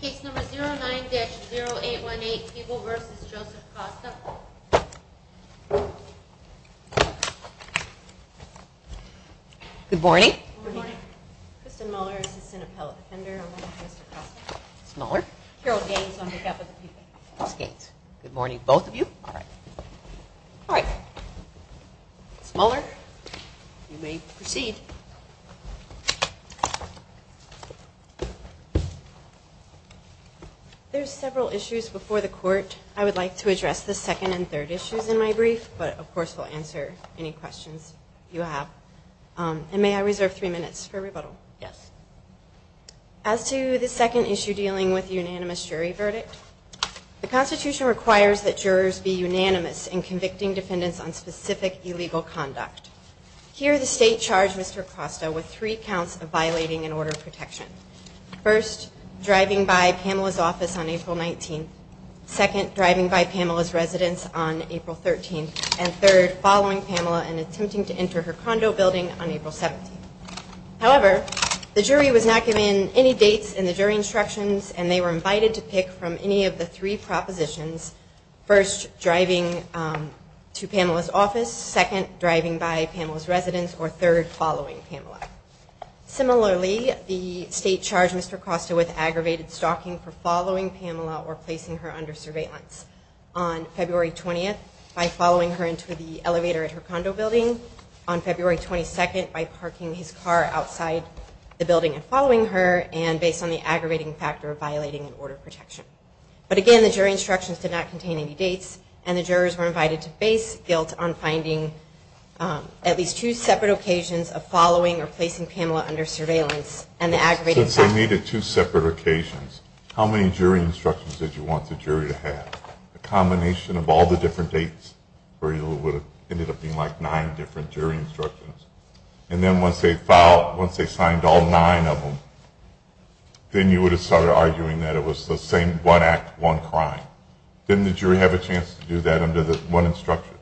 Case number 09-0818, Peeble v. Joseph Costa. Good morning. Good morning. Kristen Muller, assistant appellate defender, along with Mr. Costa. Muller. Carol Gaines on behalf of the Peeble. Gaines. Good morning, both of you. All right. Muller, you may proceed. There's several issues before the court. I would like to address the second and third issues in my brief, but of course we'll answer any questions you have. And may I reserve three minutes for rebuttal? Yes. As to the second issue dealing with the unanimous jury verdict, the Constitution requires that jurors be unanimous in convicting defendants on specific illegal conduct. Here the state charged Mr. Costa with three counts of violating an order of protection. First, driving by Pamela's office on April 19th. Second, driving by Pamela's residence on April 13th. And third, following Pamela and attempting to enter her condo building on April 17th. However, the jury was not given any dates in the jury instructions and they were invited to pick from any of the three propositions. First, driving to Pamela's office. Second, driving by Pamela's residence. Or third, following Pamela. Similarly, the state charged Mr. Costa with aggravated stalking for following Pamela or placing her under surveillance. On February 20th, by following her into the elevator at her condo building. On February 22nd, by parking his car outside the building and following her, and based on the aggravating factor of violating an order of protection. But again, the jury instructions did not contain any dates and the jurors were invited to face guilt on finding at least two separate occasions of following or placing Pamela under surveillance. Since they needed two separate occasions, how many jury instructions did you want the jury to have? A combination of all the different dates where it would have ended up being like nine different jury instructions. And then once they filed, once they signed all nine of them, then you would have started arguing that it was the same one act, one crime. Didn't the jury have a chance to do that under the one instruction?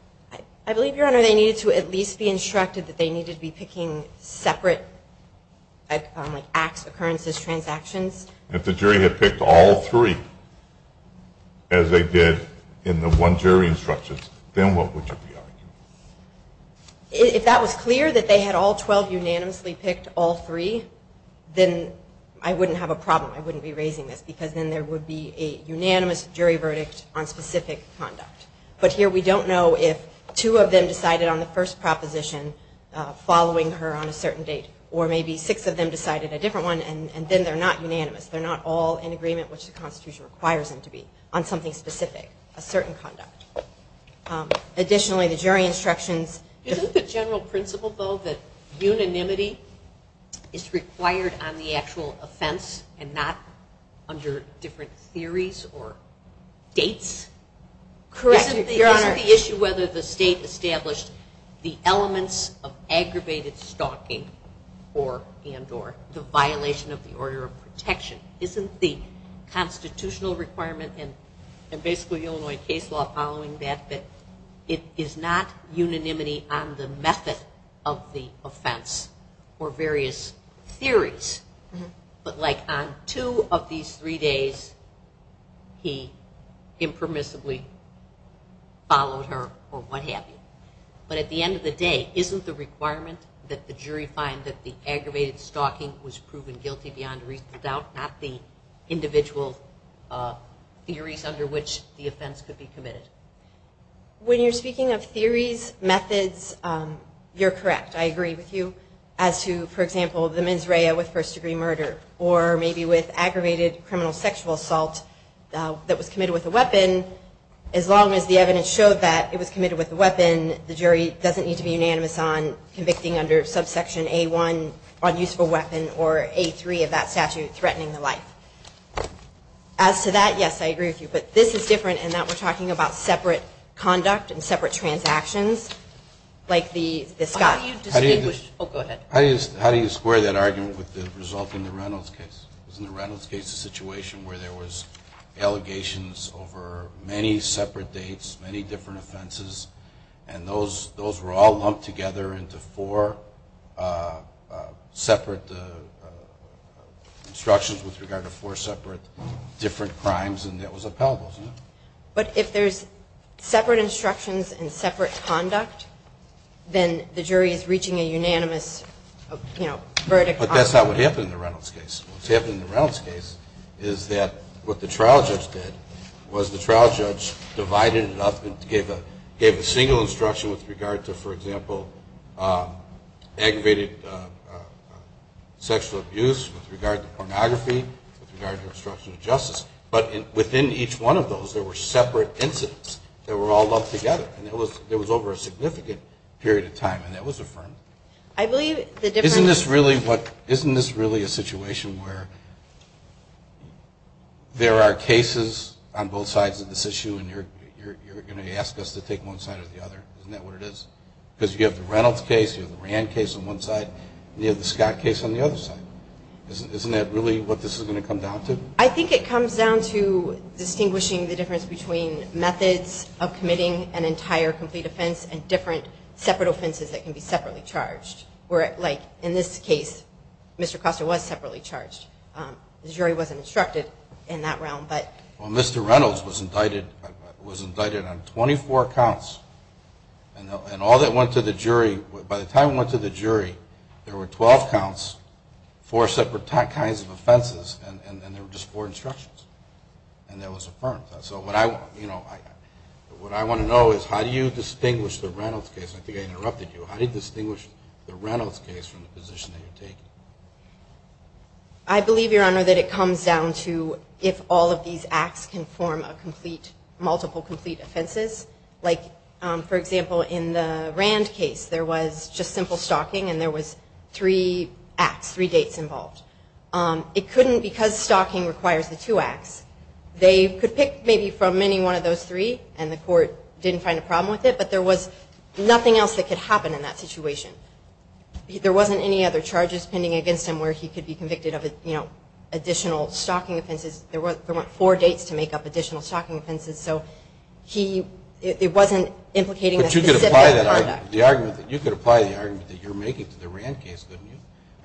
I believe, Your Honor, they needed to at least be instructed that they needed to be picking separate acts, occurrences, transactions. If the jury had picked all three as they did in the one jury instructions, then what would you be arguing? If that was clear, that they had all 12 unanimously picked all three, then I wouldn't have a problem. I wouldn't be raising this because then there would be a unanimous jury verdict on specific conduct. But here we don't know if two of them decided on the first proposition following her on a certain date, or maybe six of them decided a different one and then they're not unanimous. They're not all in agreement which the Constitution requires them to be on something specific, a certain conduct. Additionally, the jury instructions. Isn't the general principle, though, that unanimity is required on the actual offense and not under different theories or dates? Correct, Your Honor. Isn't the issue whether the state established the elements of aggravated stalking and or the violation of the order of protection? Isn't the constitutional requirement and basically Illinois case law following that that it is not unanimity on the method of the offense or various theories, but like on two of these three days he impermissibly followed her or what have you? But at the end of the day, isn't the requirement that the jury find that the aggravated stalking was proven guilty beyond reasonable doubt, not the individual theories under which the offense could be committed? When you're speaking of theories, methods, you're correct. I agree with you. As to, for example, the mens rea with first degree murder or maybe with aggravated criminal sexual assault that was committed with a weapon, as long as the evidence showed that it was committed with a weapon, the jury doesn't need to be unanimous on convicting under subsection A1 on use of a weapon or A3 of that statute threatening the life. As to that, yes, I agree with you. But this is different in that we're talking about separate conduct and separate transactions like the Scott. How do you square that argument with the result in the Reynolds case? In the Reynolds case, the situation where there was allegations over many separate dates, many different offenses and those were all lumped together into four separate instructions with regard to four separate different crimes and that was upheld. But if there's separate instructions and separate conduct, then the jury is reaching a unanimous verdict. But that's not what happened in the Reynolds case. What's happened in the Reynolds case is that what the trial judge did was the trial judge divided it up and gave a single instruction with regard to, for example, aggravated sexual abuse, with regard to pornography, with regard to obstruction of justice. But within each one of those, there were separate incidents that were all lumped together. And it was over a significant period of time and that was affirmed. Isn't this really a situation where there are cases on both sides of this issue and you're going to ask us to take one side or the other? Isn't that what it is? Because you have the Reynolds case, you have the Rand case on one side, and you have the Scott case on the other side. Isn't that really what this is going to come down to? I think it comes down to distinguishing the difference between methods of committing an entire complete offense and different separate offenses that can be separately charged. In this case, Mr. Costa was separately charged. The jury wasn't instructed in that realm. Well, Mr. Reynolds was indicted on 24 counts. And all that went to the jury, by the time it went to the jury, there were 12 counts, four separate kinds of offenses, and there were just four instructions. And that was affirmed. So what I want to know is how do you distinguish the Reynolds case? I think I interrupted you. How do you distinguish the Reynolds case from the position that you're taking? I believe, Your Honor, that it comes down to if all of these acts can form a complete, multiple complete offenses. Like, for example, in the Rand case, there was just simple stalking and there was three acts, three dates involved. It couldn't, because stalking requires the two acts, they could pick maybe from any one of those three and the court didn't find a problem with it, but there was nothing else that could happen in that situation. There wasn't any other charges pending against him where he could be convicted of additional stalking offenses. There weren't four dates to make up additional stalking offenses. It wasn't implicating the specific product. But you could apply the argument that you're making to the Rand case, couldn't you?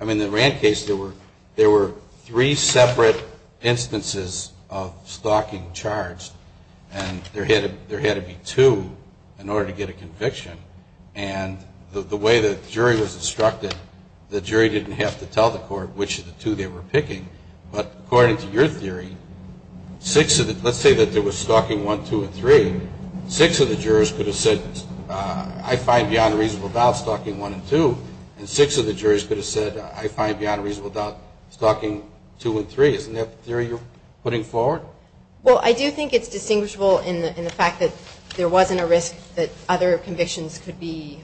I mean, in the Rand case, there were three separate instances of stalking charged and there had to be two in order to get a conviction. And the way the jury was instructed, the jury didn't have to tell the court which of the two they were picking, but according to your theory, six of the, let's say that there was stalking one, two, and three, six of the jurors could have said, I find beyond a reasonable doubt stalking one and two, and six of the jurors could have said, I find beyond a reasonable doubt stalking two and three. Isn't that the theory you're putting forward? Well, I do think it's distinguishable in the fact that there wasn't a risk that other convictions could be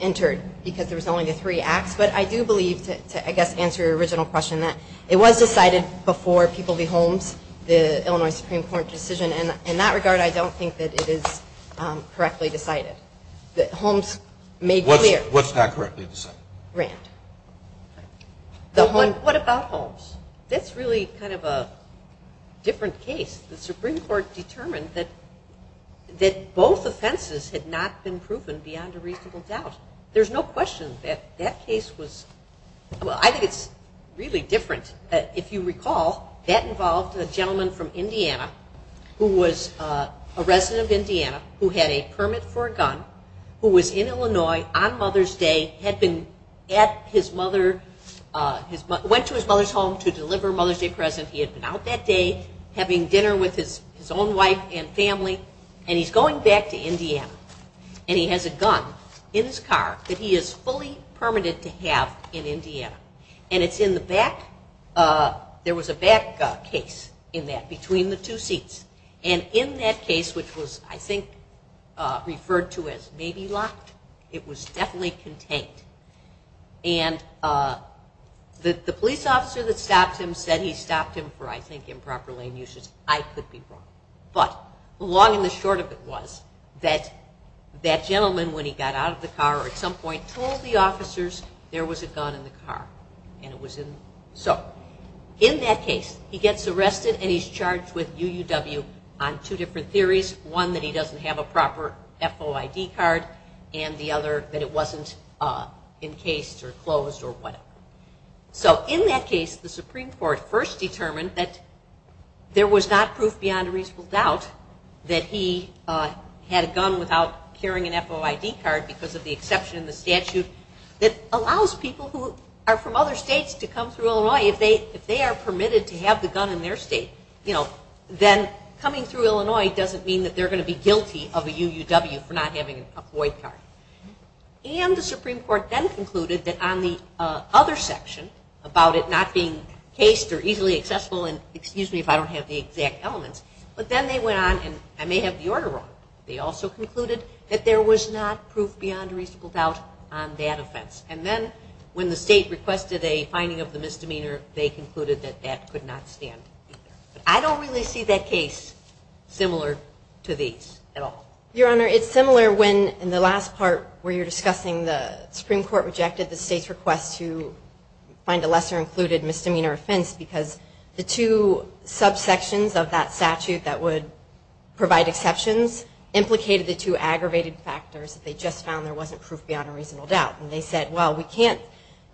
entered because there was only the three acts. But I do believe, to I guess answer your original question, that it was decided before People v. Holmes, the Illinois Supreme Court decision. And in that regard, I don't think that it is correctly decided. Holmes made clear. What's not correctly decided? Rand. What about Holmes? That's really kind of a different case. The Supreme Court determined that both offenses had not been proven beyond a reasonable doubt. There's no question that that case was, well, I think it's really different. If you recall, that involved a gentleman from Indiana who was a resident of Indiana who had a permit for a gun, who was in Illinois on Mother's Day, went to his mother's home to deliver Mother's Day presents. He had been out that day having dinner with his own wife and family, and he's going back to Indiana. And he has a gun in his car that he is fully permitted to have in Indiana. And it's in the back. There was a back case in that between the two seats. And in that case, which was, I think, referred to as maybe locked, it was definitely contained. The police officer that stopped him said he stopped him for, I think, improper lane usage. I could be wrong. But the long and the short of it was that that gentleman, when he got out of the car at some point, told the officers there was a gun in the car. So in that case, he gets arrested and he's charged with UUW on two different theories. One, that he doesn't have a proper FOID card, and the other, that it wasn't encased or closed or whatever. So in that case, the Supreme Court first determined that there was not proof beyond a reasonable doubt that he had a gun without carrying an FOID card because of the exception in the statute that allows people who are from other states to come through Illinois. If they are permitted to have the gun in their state, then coming through Illinois doesn't mean that they're going to be guilty of a UUW for not having a FOID card. And the Supreme Court then concluded that on the other section about it not being encased or easily accessible, and excuse me if I don't have the exact elements, but then they went on, and I may have the order wrong, they also concluded that there was not proof beyond a reasonable doubt on that offense. And then when the state requested a finding of the misdemeanor, they concluded that that could not stand either. I don't really see that case similar to these at all. Your Honor, it's similar when in the last part where you're discussing the Supreme Court rejected the state's request to find a lesser included misdemeanor offense because the two subsections of that statute that would provide exceptions implicated the two aggravated factors that they just found there wasn't proof beyond a reasonable doubt. And they said, well, we can't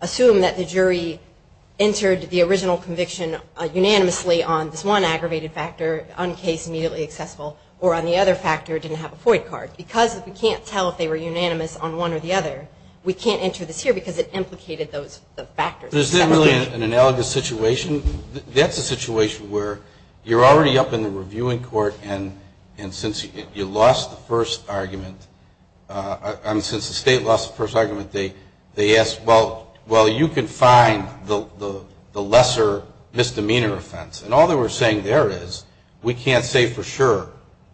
assume that the jury entered the original conviction unanimously on this one aggravated factor, uncased, immediately accessible, or on the other factor didn't have a FOID card because we can't tell if they were unanimous on one or the other. We can't enter this here because it implicated those factors. There's definitely an analogous situation. That's a situation where you're already up in the reviewing court, and since you lost the first argument, and since the state lost the first argument, they asked, well, you can find the lesser misdemeanor offense. And all they were saying there is we can't say for sure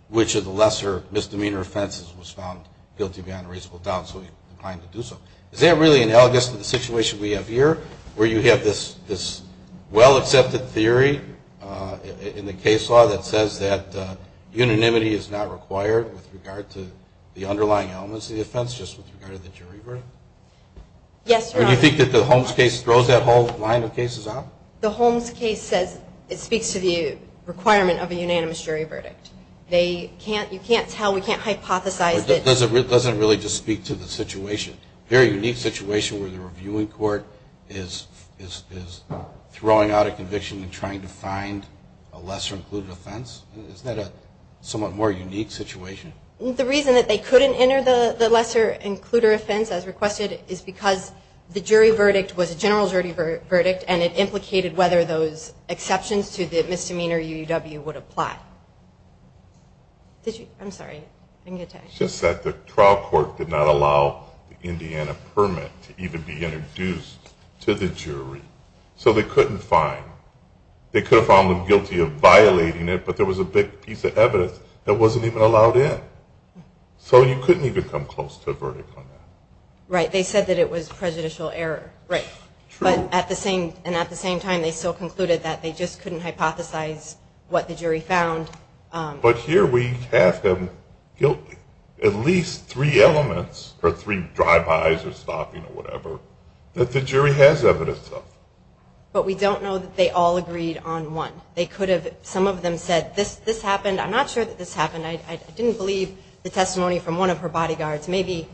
which of the lesser misdemeanor offenses was found guilty beyond a reasonable doubt, so we declined to do so. Is that really analogous to the situation we have here where you have this well-accepted theory in the case law that says that unanimity is not required with regard to the underlying elements of the offense, just with regard to the jury verdict? Yes, Your Honor. Or do you think that the Holmes case throws that whole line of cases out? The Holmes case says it speaks to the requirement of a unanimous jury verdict. You can't tell, we can't hypothesize. It doesn't really just speak to the situation. A very unique situation where the reviewing court is throwing out a conviction and trying to find a lesser-included offense. Isn't that a somewhat more unique situation? The reason that they couldn't enter the lesser-included offense, as requested, is because the jury verdict was a general jury verdict, and it implicated whether those exceptions to the misdemeanor UUW would apply. I'm sorry. Just that the trial court did not allow the Indiana permit to even be introduced to the jury. So they couldn't find. They could have found them guilty of violating it, but there was a big piece of evidence that wasn't even allowed in. So you couldn't even come close to a verdict on that. Right, they said that it was prejudicial error. True. And at the same time, they still concluded that they just couldn't hypothesize what the jury found. But here we have them guilty. At least three elements, or three drive-bys or stopping or whatever, that the jury has evidence of. But we don't know that they all agreed on one. Some of them said, this happened, I'm not sure that this happened, I didn't believe the testimony from one of her bodyguards, maybe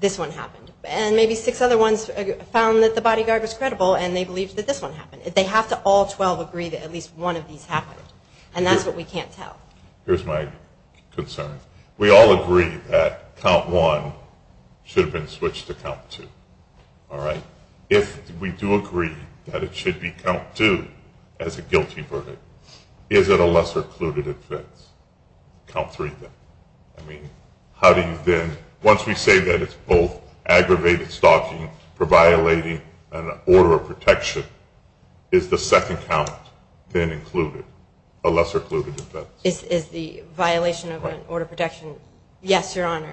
this one happened. And maybe six other ones found that the bodyguard was credible and they believed that this one happened. They have to all 12 agree that at least one of these happened, and that's what we can't tell. Here's my concern. We all agree that count one should have been switched to count two. If we do agree that it should be count two as a guilty verdict, is it a lesser-included offense? Once we say that it's both aggravated stalking for violating an order of protection, is the second count then included, a lesser-included offense? Is the violation of an order of protection, yes, Your Honor.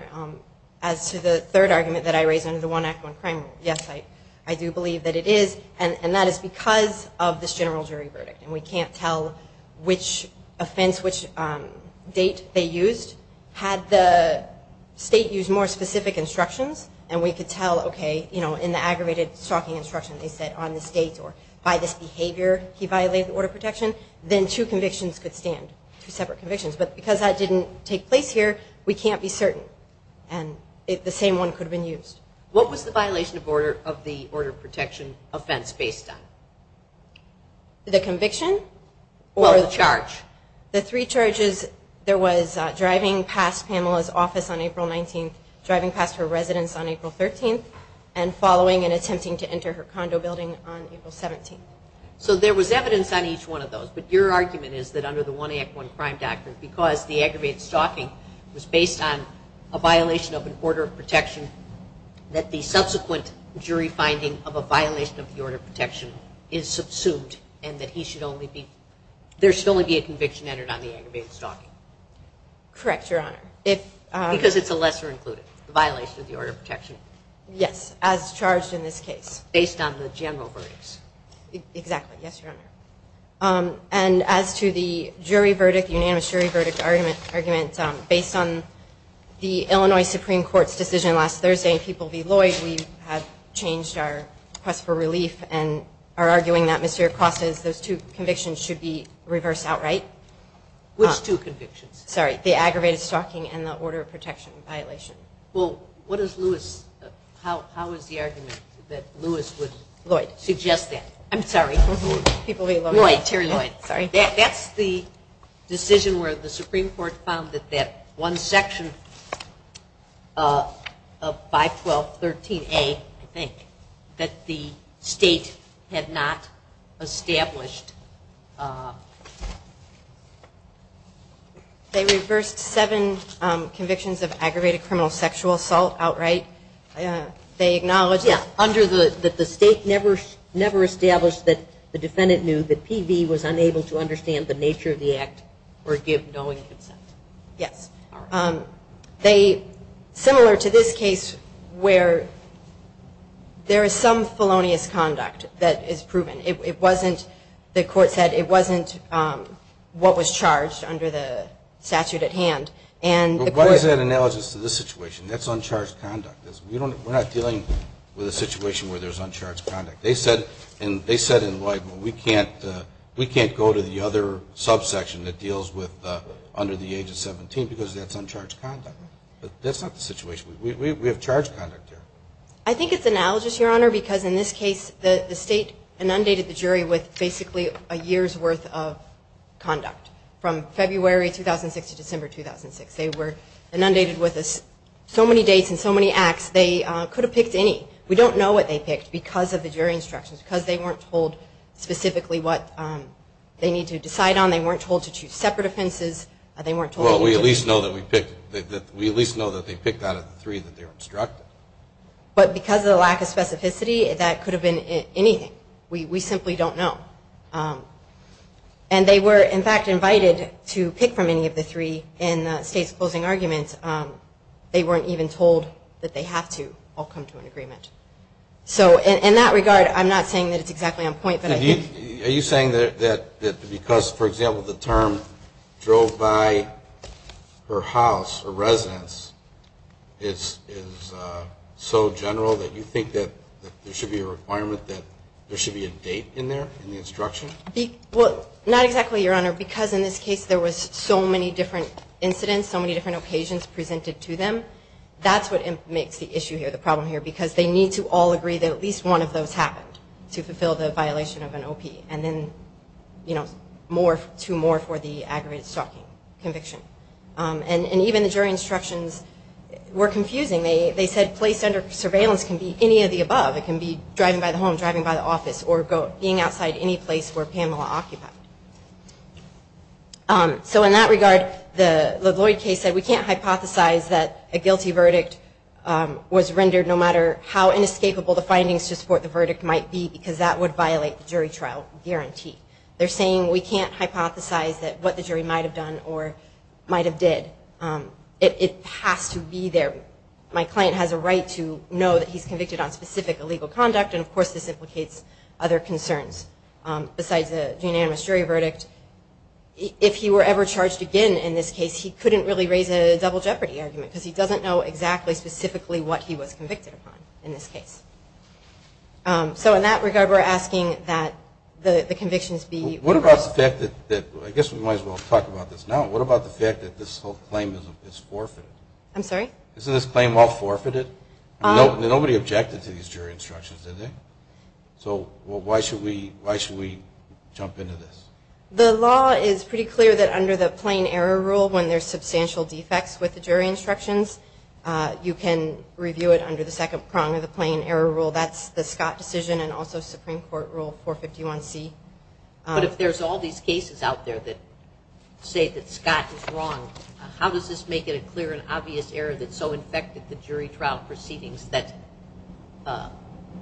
As to the third argument that I raised under the One Act, One Crime Rule, yes, I do believe that it is. And that is because of this general jury verdict. And we can't tell which offense, which date they used. Had the state used more specific instructions, and we could tell, okay, in the aggravated stalking instruction they said on this date or by this behavior he violated the order of protection, then two convictions could stand, two separate convictions. But because that didn't take place here, we can't be certain. And the same one could have been used. What was the violation of the order of protection offense based on? The conviction? Well, the charge. The three charges, there was driving past Pamela's office on April 19th, driving past her residence on April 13th, and following and attempting to enter her condo building on April 17th. But your argument is that under the One Act, One Crime Doctrine, because the aggravated stalking was based on a violation of an order of protection, that the subsequent jury finding of a violation of the order of protection is subsumed and that he should only be, there should only be a conviction entered on the aggravated stalking. Correct, Your Honor. Because it's a lesser included violation of the order of protection? Yes, as charged in this case. Based on the general verdicts? Exactly, yes, Your Honor. And as to the unanimous jury verdict argument, based on the Illinois Supreme Court's decision last Thursday in People v. Lloyd, we have changed our request for relief and are arguing that Mr. Acosta's, those two convictions should be reversed outright. Which two convictions? Sorry, the aggravated stalking and the order of protection violation. Well, what is Lewis, how is the argument that Lewis would suggest that? I'm sorry, People v. Lloyd. Terry Lloyd, sorry. That's the decision where the Supreme Court found that that one section of 512.13a, I think, that the state had not established. They reversed seven convictions of aggravated criminal sexual assault outright. They acknowledged that the state never established that the defendant knew that P.V. was unable to understand the nature of the act or give knowing consent. Yes. Similar to this case where there is some felonious conduct that is proven. The court said it wasn't what was charged under the statute at hand. But why is that analogous to this situation? That's uncharged conduct. We're not dealing with a situation where there's uncharged conduct. They said in Lloyd, we can't go to the other subsection that deals with under the age of 17 because that's uncharged conduct. That's not the situation. We have charged conduct here. I think it's analogous, Your Honor, because in this case the state inundated the jury with basically a year's worth of conduct from February 2006 to December 2006. They were inundated with so many dates and so many acts they could have picked any. We don't know what they picked because of the jury instructions, because they weren't told specifically what they need to decide on. They weren't told to choose separate offenses. Well, we at least know that they picked out of the three that they were instructed. But because of the lack of specificity, that could have been anything. We simply don't know. And they were, in fact, invited to pick from any of the three in the state's closing argument. They weren't even told that they have to all come to an agreement. So in that regard, I'm not saying that it's exactly on point. Are you saying that because, for example, the term drove by her house or residence is so general that you think that there should be a requirement that there should be a date in there in the instruction? Well, not exactly, Your Honor, because in this case there were so many different incidents, so many different occasions presented to them. That's what makes the issue here, the problem here, because they need to all agree that at least one of those happened to fulfill the violation of an OP, and then two more for the aggravated stalking conviction. And even the jury instructions were confusing. They said place under surveillance can be any of the above. It can be driving by the home, driving by the office, or being outside any place where Pamela occupied. So in that regard, the Lloyd case said we can't hypothesize that a guilty verdict was rendered no matter how inescapable the findings to support the verdict might be, because that would violate the jury trial guarantee. They're saying we can't hypothesize what the jury might have done or might have did. It has to be there. My client has a right to know that he's convicted on specific illegal conduct, and of course this implicates other concerns besides the unanimous jury verdict. If he were ever charged again in this case, he couldn't really raise a double jeopardy argument, because he doesn't know exactly specifically what he was convicted upon in this case. So in that regard, we're asking that the convictions be... What about the fact that, I guess we might as well talk about this now, what about the fact that this whole claim is forfeited? I'm sorry? Isn't this claim all forfeited? Nobody objected to these jury instructions, did they? So why should we jump into this? The law is pretty clear that under the plain error rule, when there's substantial defects with the jury instructions, you can review it under the second prong of the plain error rule. That's the Scott decision and also Supreme Court Rule 451C. But if there's all these cases out there that say that Scott is wrong, how does this make it a clear and obvious error that so infected the jury trial proceedings that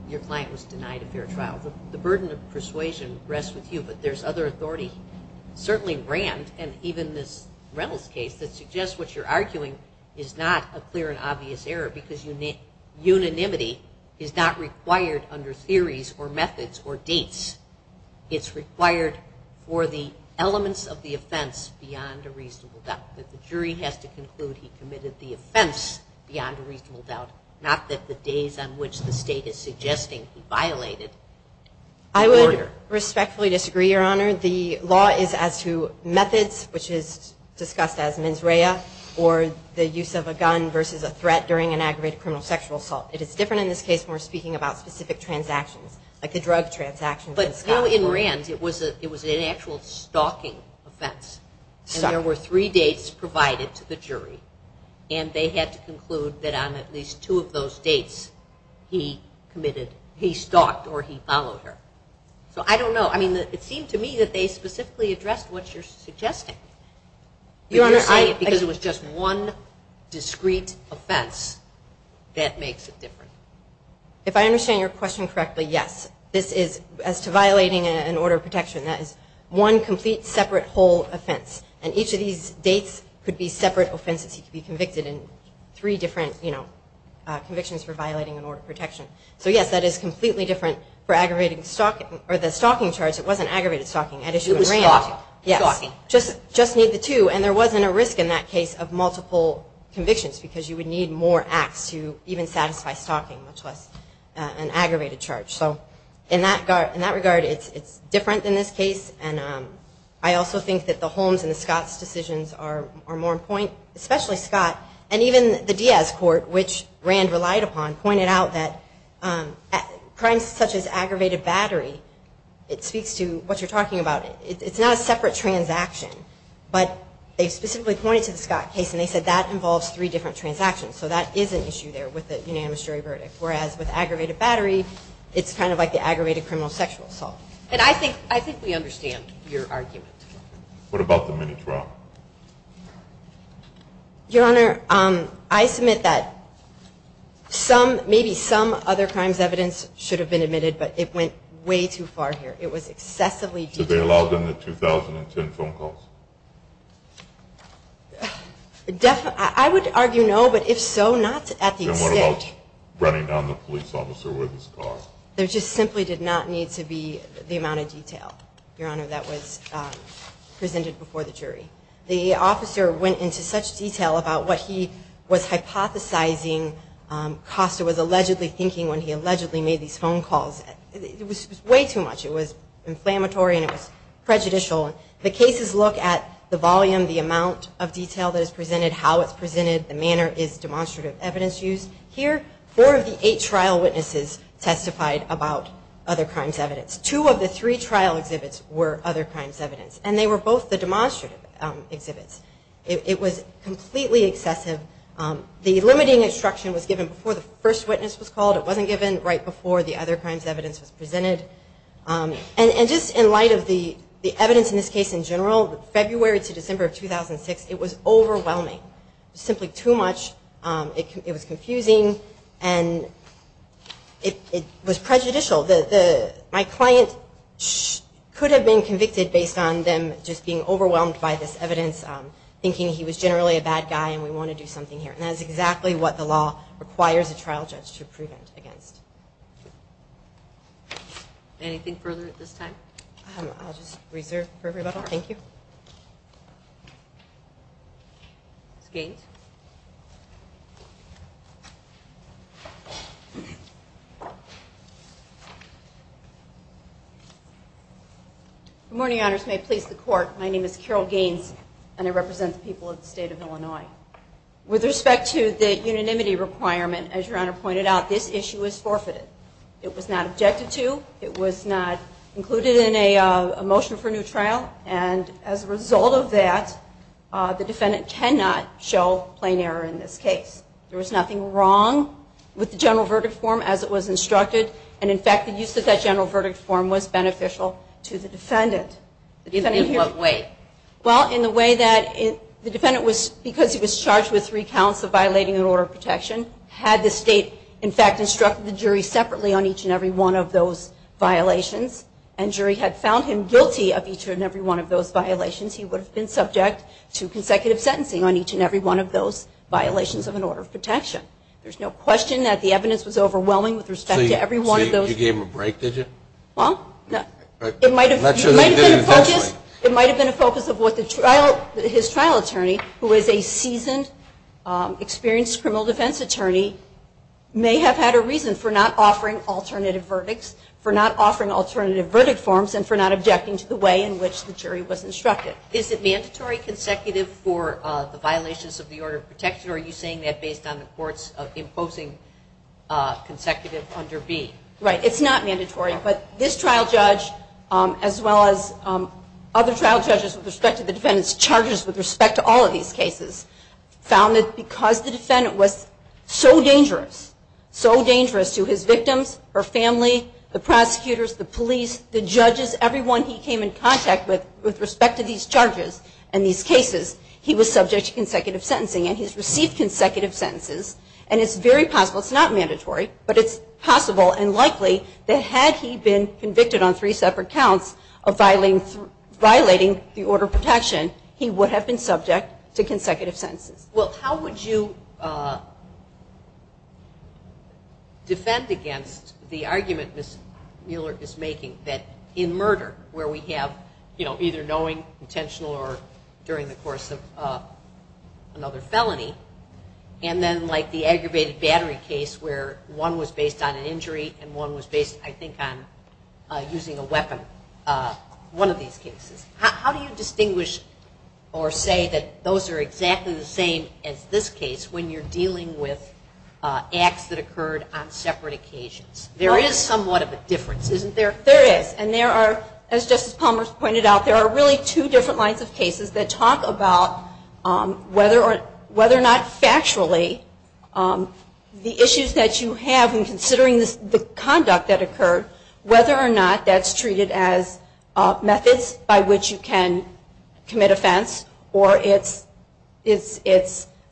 your client was denied a fair trial? The burden of persuasion rests with you, but there's other authority, certainly Rand and even this Reynolds case, that suggests what you're arguing is not a clear and obvious error, because unanimity is not required under theories or methods or dates. It's required for the elements of the offense beyond a reasonable doubt, that the jury has to conclude he committed the offense beyond a reasonable doubt, not that the days on which the state is suggesting he violated the order. I would respectfully disagree, Your Honor. The law is as to methods, which is discussed as mens rea, or the specific transactions, like the drug transactions. But you in Rand, it was an actual stalking offense, and there were three dates provided to the jury, and they had to conclude that on at least two of those dates he committed, he stalked or he followed her. So I don't know. I mean, it seemed to me that they specifically addressed what you're suggesting. You're saying it because it was just one discrete offense that makes it different. If I understand your question correctly, yes. This is, as to violating an order of protection, that is one complete separate whole offense, and each of these dates could be separate offenses. He could be convicted in three different convictions for violating an order of protection. So yes, that is completely different for aggravating stalking, or the stalking charge. It wasn't aggravated stalking. It was stalking. Yes. Just need the two, and there wasn't a risk in that case of multiple convictions because you would need more acts to even satisfy stalking, much less an aggravated charge. So in that regard, it's different in this case, and I also think that the Holmes and the Scott's decisions are more important, especially Scott, and even the Diaz court, which Rand relied upon, pointed out that crimes such as aggravated battery, it speaks to what you're talking about. It's not a separate transaction, but they specifically pointed to the Scott case, and they said that involves three different transactions. So that is an issue there with the unanimous jury verdict, whereas with aggravated battery, it's kind of like the aggravated criminal sexual assault. And I think we understand your argument. What about the minute trial? Your Honor, I submit that maybe some other crimes evidence should have been admitted, but it went way too far here. It was excessively detailed. Did they allow them the 2010 phone calls? I would argue no, but if so, not at the extent. And what about running down the police officer with his car? There just simply did not need to be the amount of detail, Your Honor, that was what he was hypothesizing. Costa was allegedly thinking when he allegedly made these phone calls. It was way too much. It was inflammatory, and it was prejudicial. The cases look at the volume, the amount of detail that is presented, how it's presented, the manner is demonstrative evidence used. Here, four of the eight trial witnesses testified about other crimes evidence. Two of the three trial exhibits were other crimes evidence, and they were both the demonstrative exhibits. It was completely excessive. The limiting instruction was given before the first witness was called. It wasn't given right before the other crimes evidence was presented. And just in light of the evidence in this case in general, February to December of 2006, it was overwhelming. It was simply too much. It was confusing, and it was him just being overwhelmed by this evidence, thinking he was generally a bad guy and we want to do something here. And that is exactly what the law requires a trial judge to prevent against. Anything further at this time? I'll just reserve for everybody. Thank you. Ms. Gaines. Good morning, honors. May it please the court. My name is Carol Gaines, and I represent the people of the state of Illinois. With respect to the unanimity requirement, as your honor pointed out, this issue was forfeited. It was not objected to. It was not included in a trial. And as a result of that, the defendant cannot show plain error in this case. There was nothing wrong with the general verdict form as it was instructed. And in fact, the use of that general verdict form was beneficial to the defendant. In what way? Well, in the way that the defendant was, because he was charged with three counts of violating an order of protection, had the state in fact instructed the jury separately on each and every one of those violations, and jury had found him guilty of each and every one of those violations, he would have been subject to consecutive sentencing on each and every one of those violations of an order of protection. There's no question that the evidence was overwhelming with respect to every one of those. So you gave him a break, did you? Well, it might have been a focus of what his trial attorney, who is a seasoned, experienced criminal defense attorney, may have had a reason for not offering alternative verdicts, for not offering alternative verdict forms, and for not objecting to the way in which the jury was instructed. Is it mandatory consecutive for the violations of the order of protection, or are you saying that based on the courts imposing consecutive under B? Right. It's not mandatory. But this trial judge, as well as other trial judges with respect to the defendant's charges with respect to all of these cases, found that because the defendant was so dangerous, so dangerous to his victims, her family, the prosecutors, the police, the judges, everyone he came in contact with, with respect to these charges and these cases, he was subject to consecutive sentencing. And he's received consecutive sentences, and it's very possible, it's not mandatory, but it's possible and likely that had he been convicted on three separate counts of violating the order of protection, he would have been subject to consecutive sentences. Well, how would you defend against the argument Ms. Mueller is making that in murder, where we have either knowing, intentional, or during the course of another felony, and then like the aggravated battery case where one was based on an injury and one was based, I think, on using a weapon, one of these cases. How do you distinguish or say that those are exactly the same as this case when you're dealing with acts that occurred on separate occasions? There is somewhat of a difference, isn't there? There is. And there are, as Justice Palmers pointed out, there are really two different kinds of cases that talk about whether or not factually the issues that you have in considering the conduct that occurred, whether or not that's treated as methods by which you can commit offense, or it's, you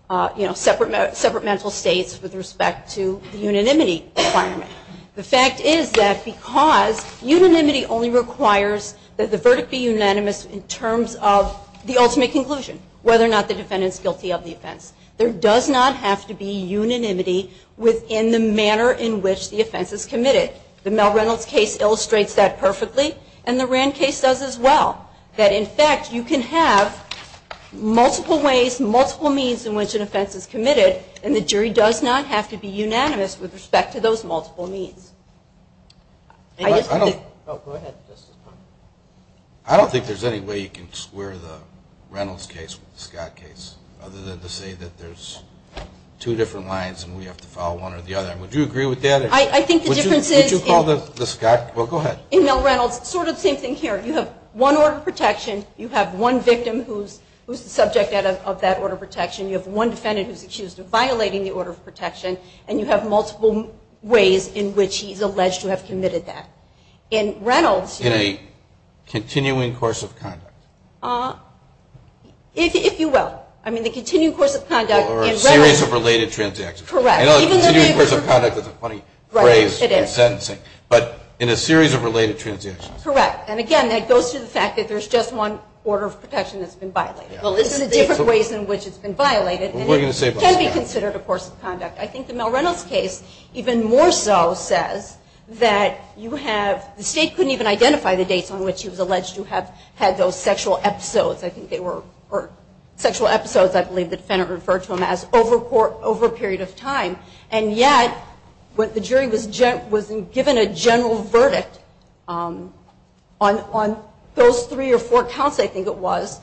know, separate mental states with respect to the unanimity requirement. The fact is that because unanimity only requires that the verdict be unanimous in terms of the ultimate conclusion, whether or not the defendant's guilty of the offense. There does not have to be unanimity within the manner in which the offense is committed. The Mel Reynolds case illustrates that perfectly, and the Rand case does as well, that in fact, you can have multiple ways, multiple means in which an offense is committed, and the jury does not have to be unanimous with respect to those multiple means. Go ahead, Justice Palmer. I don't think there's any way you can square the Reynolds case with the Scott case, other than to say that there's two different lines and we have to follow one or the other. Would you agree with that? I think the difference is... Would you call the Scott... Well, go ahead. In Mel Reynolds, sort of the same thing here. You have one order of protection, you have one victim who's the subject of that order of protection, you have one defendant who's accused of violating the order of protection, and you have multiple ways in which he's alleged to have committed that. In Reynolds... In a continuing course of conduct. If you will. I mean, the continuing course of conduct... Or a series of related transactions. Correct. I know continuing course of conduct is a funny phrase for sentencing, but in a series of related transactions. Correct. And again, that goes to the fact that there's just one order of protection that's been violated. There's different ways in which it's been violated, and it can be considered a course of conduct. I think the Mel Reynolds case, even more so, says that you have... The state couldn't even identify the dates on which he was alleged to have had those sexual episodes. I think they were... sexual episodes, I believe the defendant referred to them as over a period of time. And yet, when the jury was given a general verdict on those three or four counts, I think it was,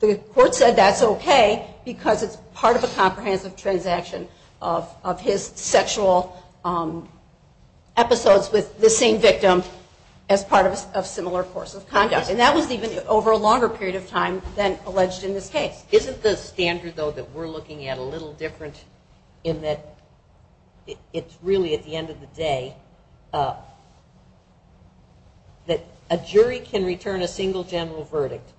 the court said that's okay, because it's part of a comprehensive transaction of his sexual episodes with the same victim as part of a similar course of conduct. And that was even over a longer period of time than alleged in this case. Isn't the standard, though, that we're looking at a little different in that it's really at the end of the day that a jury can return a single general verdict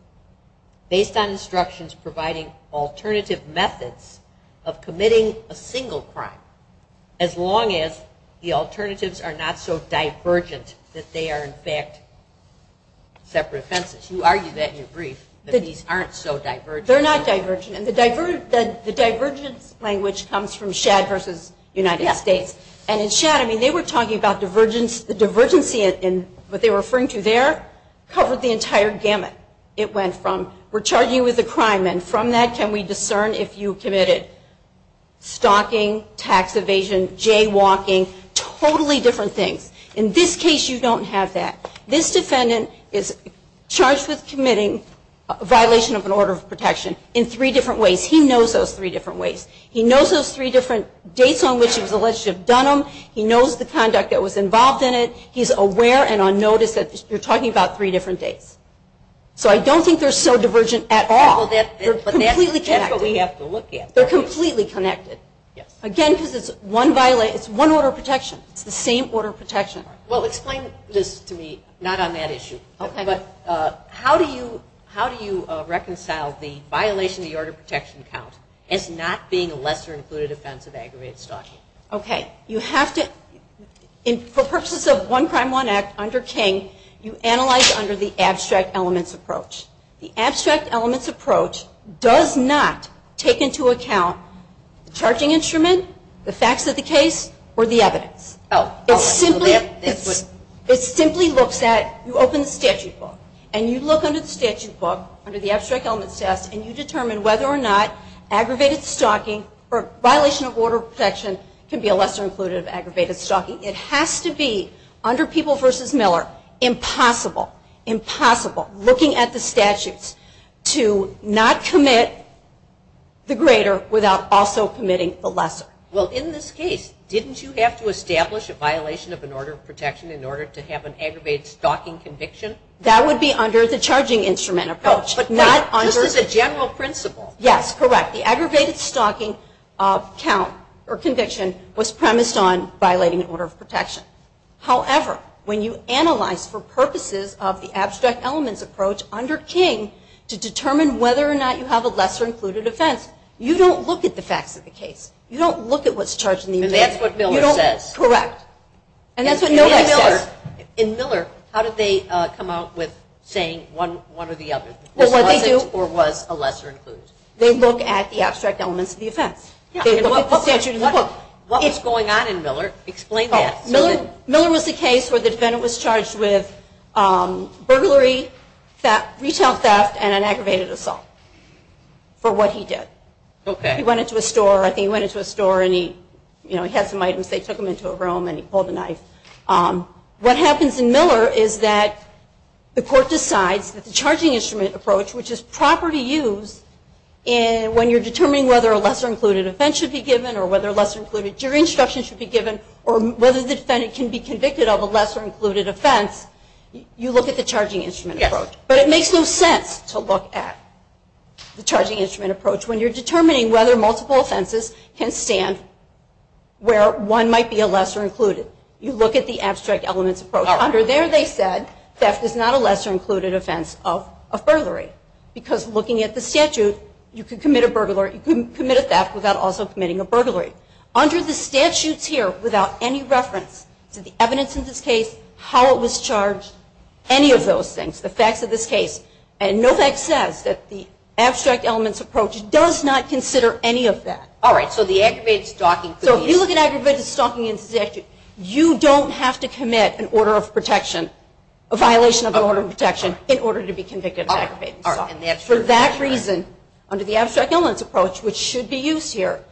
based on instructions providing alternative methods of committing a single crime as long as the alternatives are not so divergent that they are in fact separate offenses? You argued that in your brief, that these aren't so divergent. They're not divergent. And the divergent language comes from Shadd versus United States. And in Shadd, I mean, they were talking about the divergency in what they were referring to there covered the entire gamut. It went from, we're charging you with a crime, and from that can we discern if you committed stalking, tax evasion, jaywalking, totally different things. In this case, you don't have that. This defendant is charged with committing a violation of an order of protection in three different ways. He knows those three different ways. He knows those three different dates on which he was alleged to have done them. He knows the conduct that was involved in it. He's aware and on notice that you're talking about three different dates. So I don't think they're so divergent at all. But that's what we have to look at. Again, because it's one order of protection. It's the same order of protection. Well, explain this to me, not on that issue, but how do you reconcile the violation of the order of protection count as not being a lesser included offense of aggravated stalking? Okay. You have to, for purposes of One Crime One Act, under King, you analyze under the abstract elements approach. The abstract elements approach does not take into account the charging instrument, the facts of the case, or the evidence. It simply looks at, you open the statute book, and you look under the statute book, under the abstract elements test, and you determine whether or not aggravated stalking or violation of order of protection can be a lesser included aggravated stalking. It has to be, under People v. Miller, impossible, impossible, looking at the statutes, to not commit the greater without also committing the lesser. Well, in this case, didn't you have to establish a violation of an order of protection in order to have an aggravated stalking conviction? That would be under the charging instrument approach. This is a general principle. Yes, correct. The aggravated stalking conviction was premised on violating an order of protection. However, when you analyze, for purposes of the abstract elements approach, under King, to determine whether or not you have a lesser included offense, you don't look at the facts of the case. You don't look at what's charged in the objection. And that's what Miller says. Correct. And that's what Miller says. In Miller, how did they come out with saying one or the other? This wasn't or was a lesser included? They look at the abstract elements of the offense. They look at the statute in the book. What was going on in Miller? Explain that. Miller was the case where the defendant was charged with burglary, retail theft, and an aggravated assault for what he did. He went into a store and he had some items. They took him into a room and he pulled a knife. What happens in Miller is that the court decides that the charging instrument approach, which is property use, when you're determining whether a lesser included offense should be given or whether a lesser included jury instruction should be given or whether the defendant can be convicted of a lesser included offense, you look at the charging instrument approach. But it makes no sense to look at the charging instrument approach when you're determining whether multiple offenses can stand where one might be a lesser included. You look at the abstract elements approach. Under there they said theft is not a lesser included offense of burglary. Because looking at the statute, you can commit a burglary. You can commit a theft without also committing a burglary. Under the statutes here without any facts of this case. And no fact says that the abstract elements approach does not consider any of that. So if you look at aggravated stalking in the statute, you don't have to commit an order of protection, a violation of an order of protection, in order to be convicted of aggravated stalking. For that reason, under the abstract elements approach, which should be used here,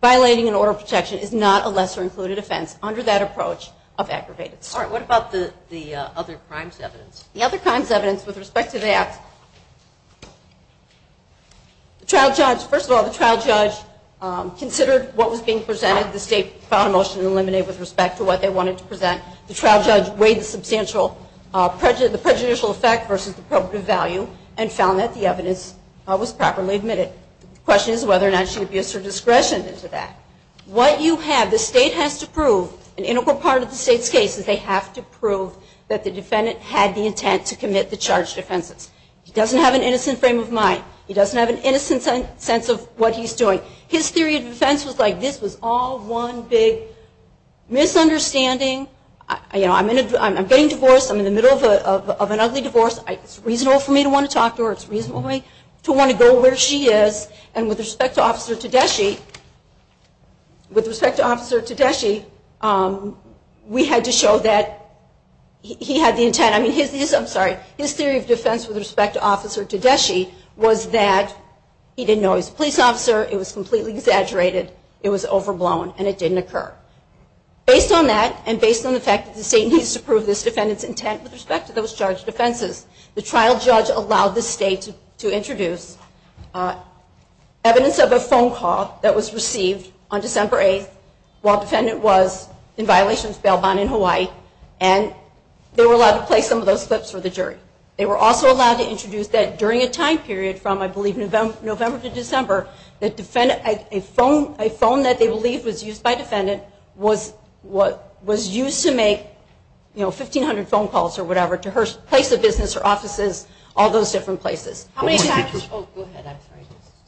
violating an order of protection is not a lesser included offense under that approach of aggravated stalking. The other crimes evidence with respect to that, the trial judge, first of all, the trial judge considered what was being presented. The state filed a motion to eliminate with respect to what they wanted to present. The trial judge weighed the substantial prejudicial effect versus the appropriate value and found that the evidence was properly admitted. The question is whether or not she abused her discretion into that. What you have, the state has to prove, an integral part of the state's case is they have to prove that the defendant had the intent to commit the charged offenses. He doesn't have an innocent frame of mind. He doesn't have an innocent sense of what he's doing. His theory of defense was like this was all one big misunderstanding. You know, I'm getting divorced. I'm in the middle of an ugly divorce. It's reasonable for me to want to talk to her. It's reasonable to want to go where she is. And with respect to Officer Tedeschi, we had to show that he had the intent. I mean, his theory of defense with respect to Officer Tedeschi was that he didn't know he was a police officer. It was completely exaggerated. It was overblown and it didn't occur. Based on that and based on the fact that the state needs to prove this defendant's intent with respect to those charged offenses, the trial judge allowed the state to introduce evidence of a phone call that was received on December 8th while defendant was in violation of bail bond in Hawaii and they were allowed to play some of those clips for the jury. They were also allowed to introduce that during a time period from I believe November to December that a phone that they believed was used by defendant was used to make 1,500 phone calls or whatever to her place of business, her offices, all those different places. Why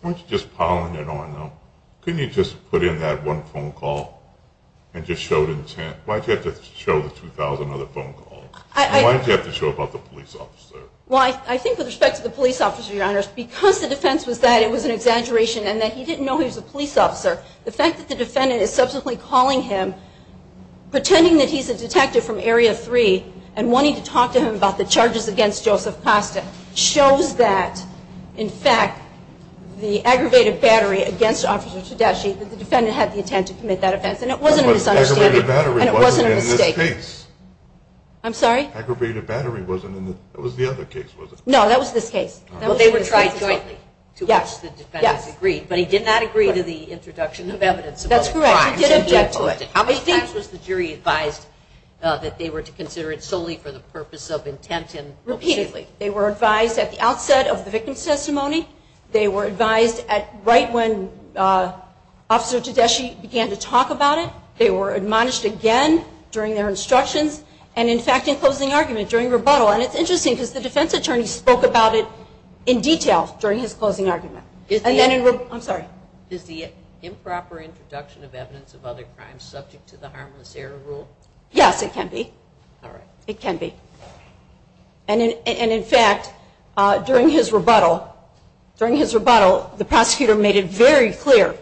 don't you just pile it on though? Couldn't you just put in that one phone call and just show the intent? Why did you have to show the 2,000 other phone calls? Why did you have to show the intent? I think with respect to the police officer, because the defense was that it was an exaggeration and that he didn't know he was a police officer, the fact that the defendant is subsequently calling him pretending that he's a detective from Area 3 and wanting to talk to him about the charges against Joseph Costa shows that in fact the aggravated battery against Officer Tedeschi, the defendant had the intent to commit that offense and it wasn't a mistake. That was the other case, wasn't it? No, that was this case. Well, they were tried jointly to which the defendants agreed, but he did not agree to the introduction of evidence. That's correct. He didn't get to it. How many times was the jury advised that they were to consider it solely for the purpose of intent? Repeatedly. They were advised at the outset of the victim's testimony. They were advised right when Officer Tedeschi began to talk about it. They were admonished again during their instructions and in fact in closing argument during rebuttal. And it's interesting because the defense attorney spoke about it in detail during his closing argument. I'm sorry? Is the improper introduction of evidence of other crimes subject to the harmless error rule? Yes, it can be. It can be. And in fact during his rebuttal, the prosecutor made it very clear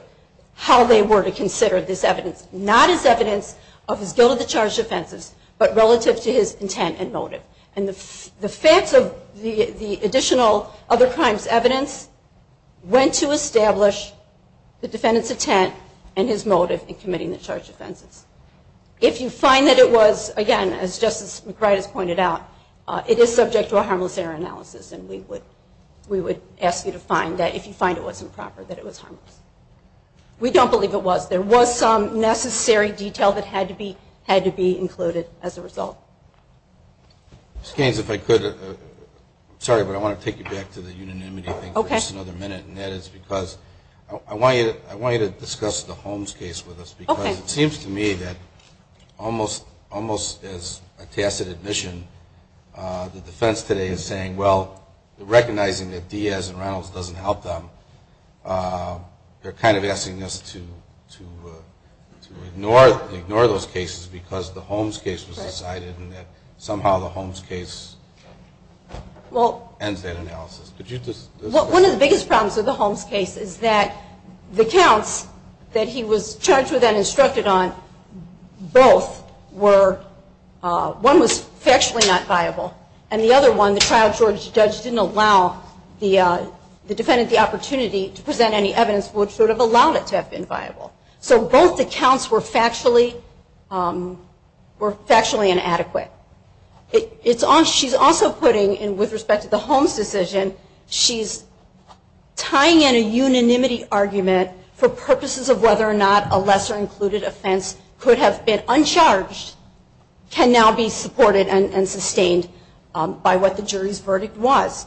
how they were to consider this evidence. Not as evidence of his guilt of the charged offenses, but relative to his intent and motive. And the facts of the additional other crimes evidence went to establish the defendant's intent and his motive in committing the charged offenses. If you find that it was, again as Justice McBride has pointed out, it is subject to a harmless error analysis and we would ask you to find that if you find it wasn't proper that it was harmless. We don't believe it was. There was some necessary detail that had to be included as a result. Ms. Gaines, if I could, sorry but I want to take you back to the unanimity thing for just another minute and that is because I want you to discuss the Holmes case with us because it seems to me that almost as a tacit admission, the defense today is saying, well, recognizing that Diaz and Reynolds doesn't help them, they're kind of asking us to ignore those cases because the Holmes case was decided and that somehow the Holmes case ends that analysis. One of the biggest problems with the Holmes case is that the counts that he was charged with and instructed on, both were, one was factually not viable and the other one, the trial judge didn't allow the defendant the opportunity to present any evidence which would have allowed it to have been viable. So both the counts were factually inadequate. She's also putting, with respect to the Holmes decision, she's tying in a unanimity argument for purposes of whether or not a lesser included offense could have been uncharged can now be supported and sustained by what the jury's verdict was.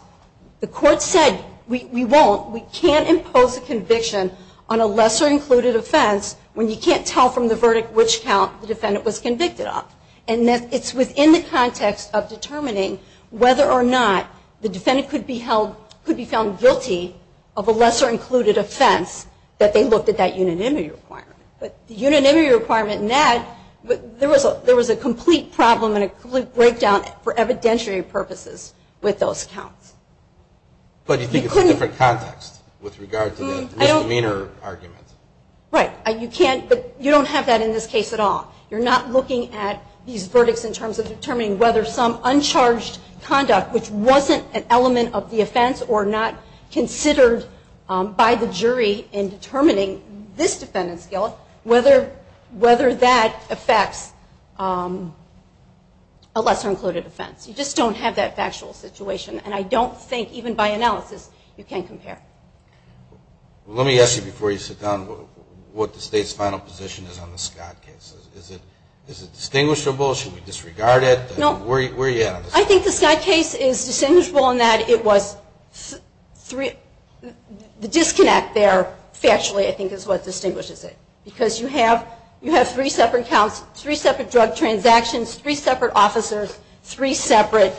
The court said, we won't, we can't impose a conviction on a lesser included offense when you can't tell from the verdict which count the defendant was convicted of. It's within the context of determining whether or not the defendant could be held, could be found guilty of a lesser included offense that they looked at that unanimity requirement. But the unanimity requirement in that, there was a complete problem and a complete breakdown for evidentiary purposes with those counts. But you think it's a different context with regard to the misdemeanor argument? Right. You can't, you don't have that in this case at all. You're not looking at these verdicts in terms of determining whether some uncharged conduct which wasn't an element of the offense or not considered by the jury in determining this defendant's guilt, whether that affects a lesser included offense. You just don't have that factual situation. And I don't think even by analysis you can compare. Let me ask you before you sit down what the state's final position is on the Scott case. Is it distinguishable? Should we disregard it? Where are you at? I think the Scott case is distinguishable in that it was three, the disconnect there factually I think is what distinguishes it. Because you have three separate counts, three separate drug transactions, three separate officers, three separate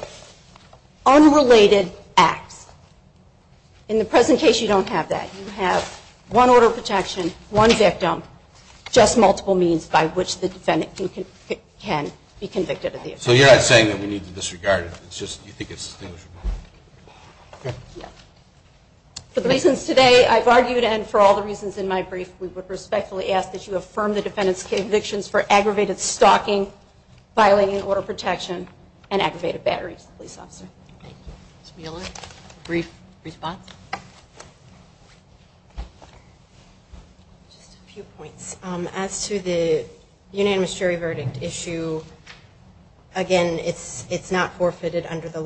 unrelated acts. In the present case you don't have that. You have one order of protection, one victim, just multiple means by which the defendant can be convicted of the offense. So you're not saying that we need to disregard it? You think it's distinguishable? For the reasons today I've argued and for all the reasons in my brief, we would respectfully ask that you affirm the defendant's convictions for aggravated stalking, violating order of protection, and aggravated battery. Thank you. Ms. Mueller, brief response? Just a few points. As to the Scott case,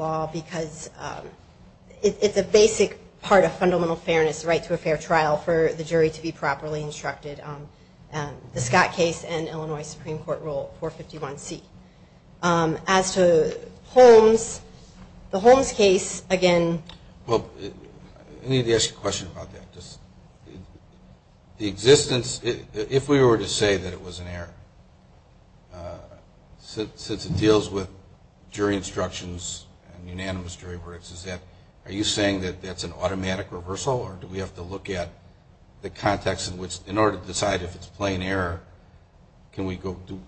it's a basic part of fundamental fairness, the right to a fair trial for the jury to be properly instructed. The Scott case and Illinois Supreme Court Rule 451C. As to Holmes, the Holmes case, again... I need to ask you a question about that. The existence, if we were to say that it was an error, since it deals with jury instructions and unanimous jury verdicts, are you saying that that's an automatic reversal or do we have to look at the context in which, in order to decide if it's plain error,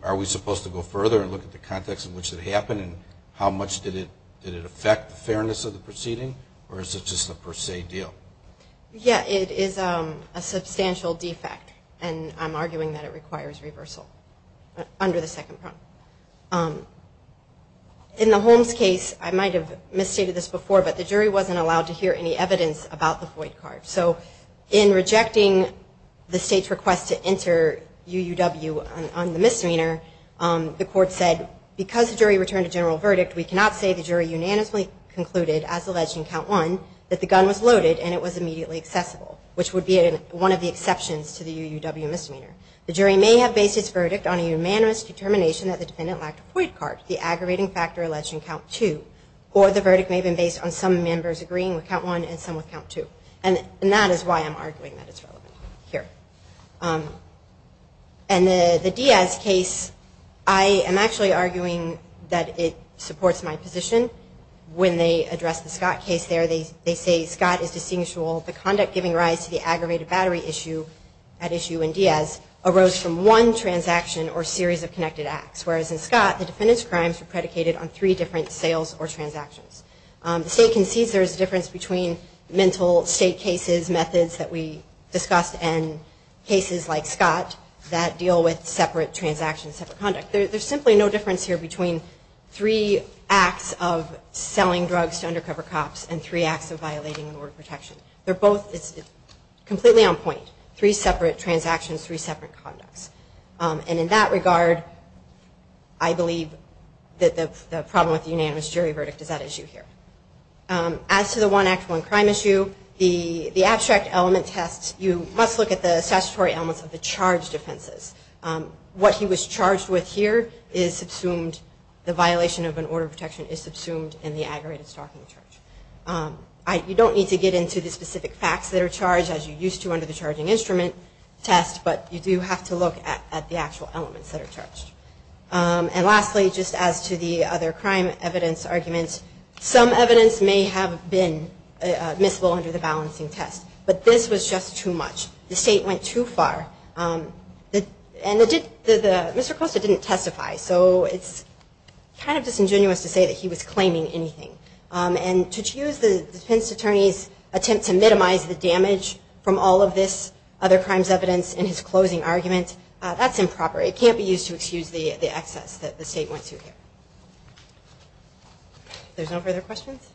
are we supposed to go further and look at the context in which it happened and how much did it affect the fairness of the proceeding or is it just a per se deal? Yeah, it is a substantial defect and I'm arguing that it requires reversal under the second prong. In the Holmes case, I might have misstated this before, but the jury wasn't allowed to hear any evidence about the void card. So in rejecting the state's request to enter UUW on the misdemeanor, the court said, because the jury returned a general verdict, we cannot say the jury unanimously concluded, as alleged in count one, that the gun was loaded and it was immediately accessible, which would be one of the exceptions to the UUW misdemeanor. The jury may have based its verdict on a unanimous determination that the defendant lacked a void card, the aggravating factor alleged in count two, or the verdict may have been based on some members agreeing with count one and some with count two. And that is why I'm arguing that it's relevant here. And the Diaz case, I am actually arguing that it supports my position. When they address the Scott case there, they say Scott is distinguishable. The conduct giving rise to the aggravated battery issue at issue in Diaz arose from one transaction or series of connected acts, whereas in Scott, the defendant's crimes were predicated on three different sales or transactions. The state concedes there is a difference between mental state cases, methods that we discussed, and transactions, separate conduct. There's simply no difference here between three acts of selling drugs to undercover cops and three acts of violating an order of protection. They're both completely on point. Three separate transactions, three separate conducts. And in that regard, I believe that the problem with the unanimous jury verdict is that issue here. As to the one act, one crime issue, the abstract element test, you must look at the statutory elements of the charged offenses. What he was charged with here is subsumed, the violation of an order of protection is subsumed in the aggravated stalking charge. You don't need to get into the specific facts that are charged as you used to under the charging instrument test, but you do have to look at the actual elements that are charged. And lastly, just as to the other crime evidence arguments, some of the evidence here is that the state went too far. Mr. Costa didn't testify, so it's kind of disingenuous to say that he was claiming anything. And to use the defense attorney's attempt to minimize the damage from all of this other crimes evidence in his closing argument, that's improper. It can't be used to excuse the excess that the state went to here. There's no further questions?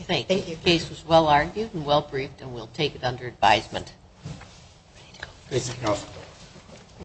Thank you. Your case was well argued and well briefed and we'll take it under advisement.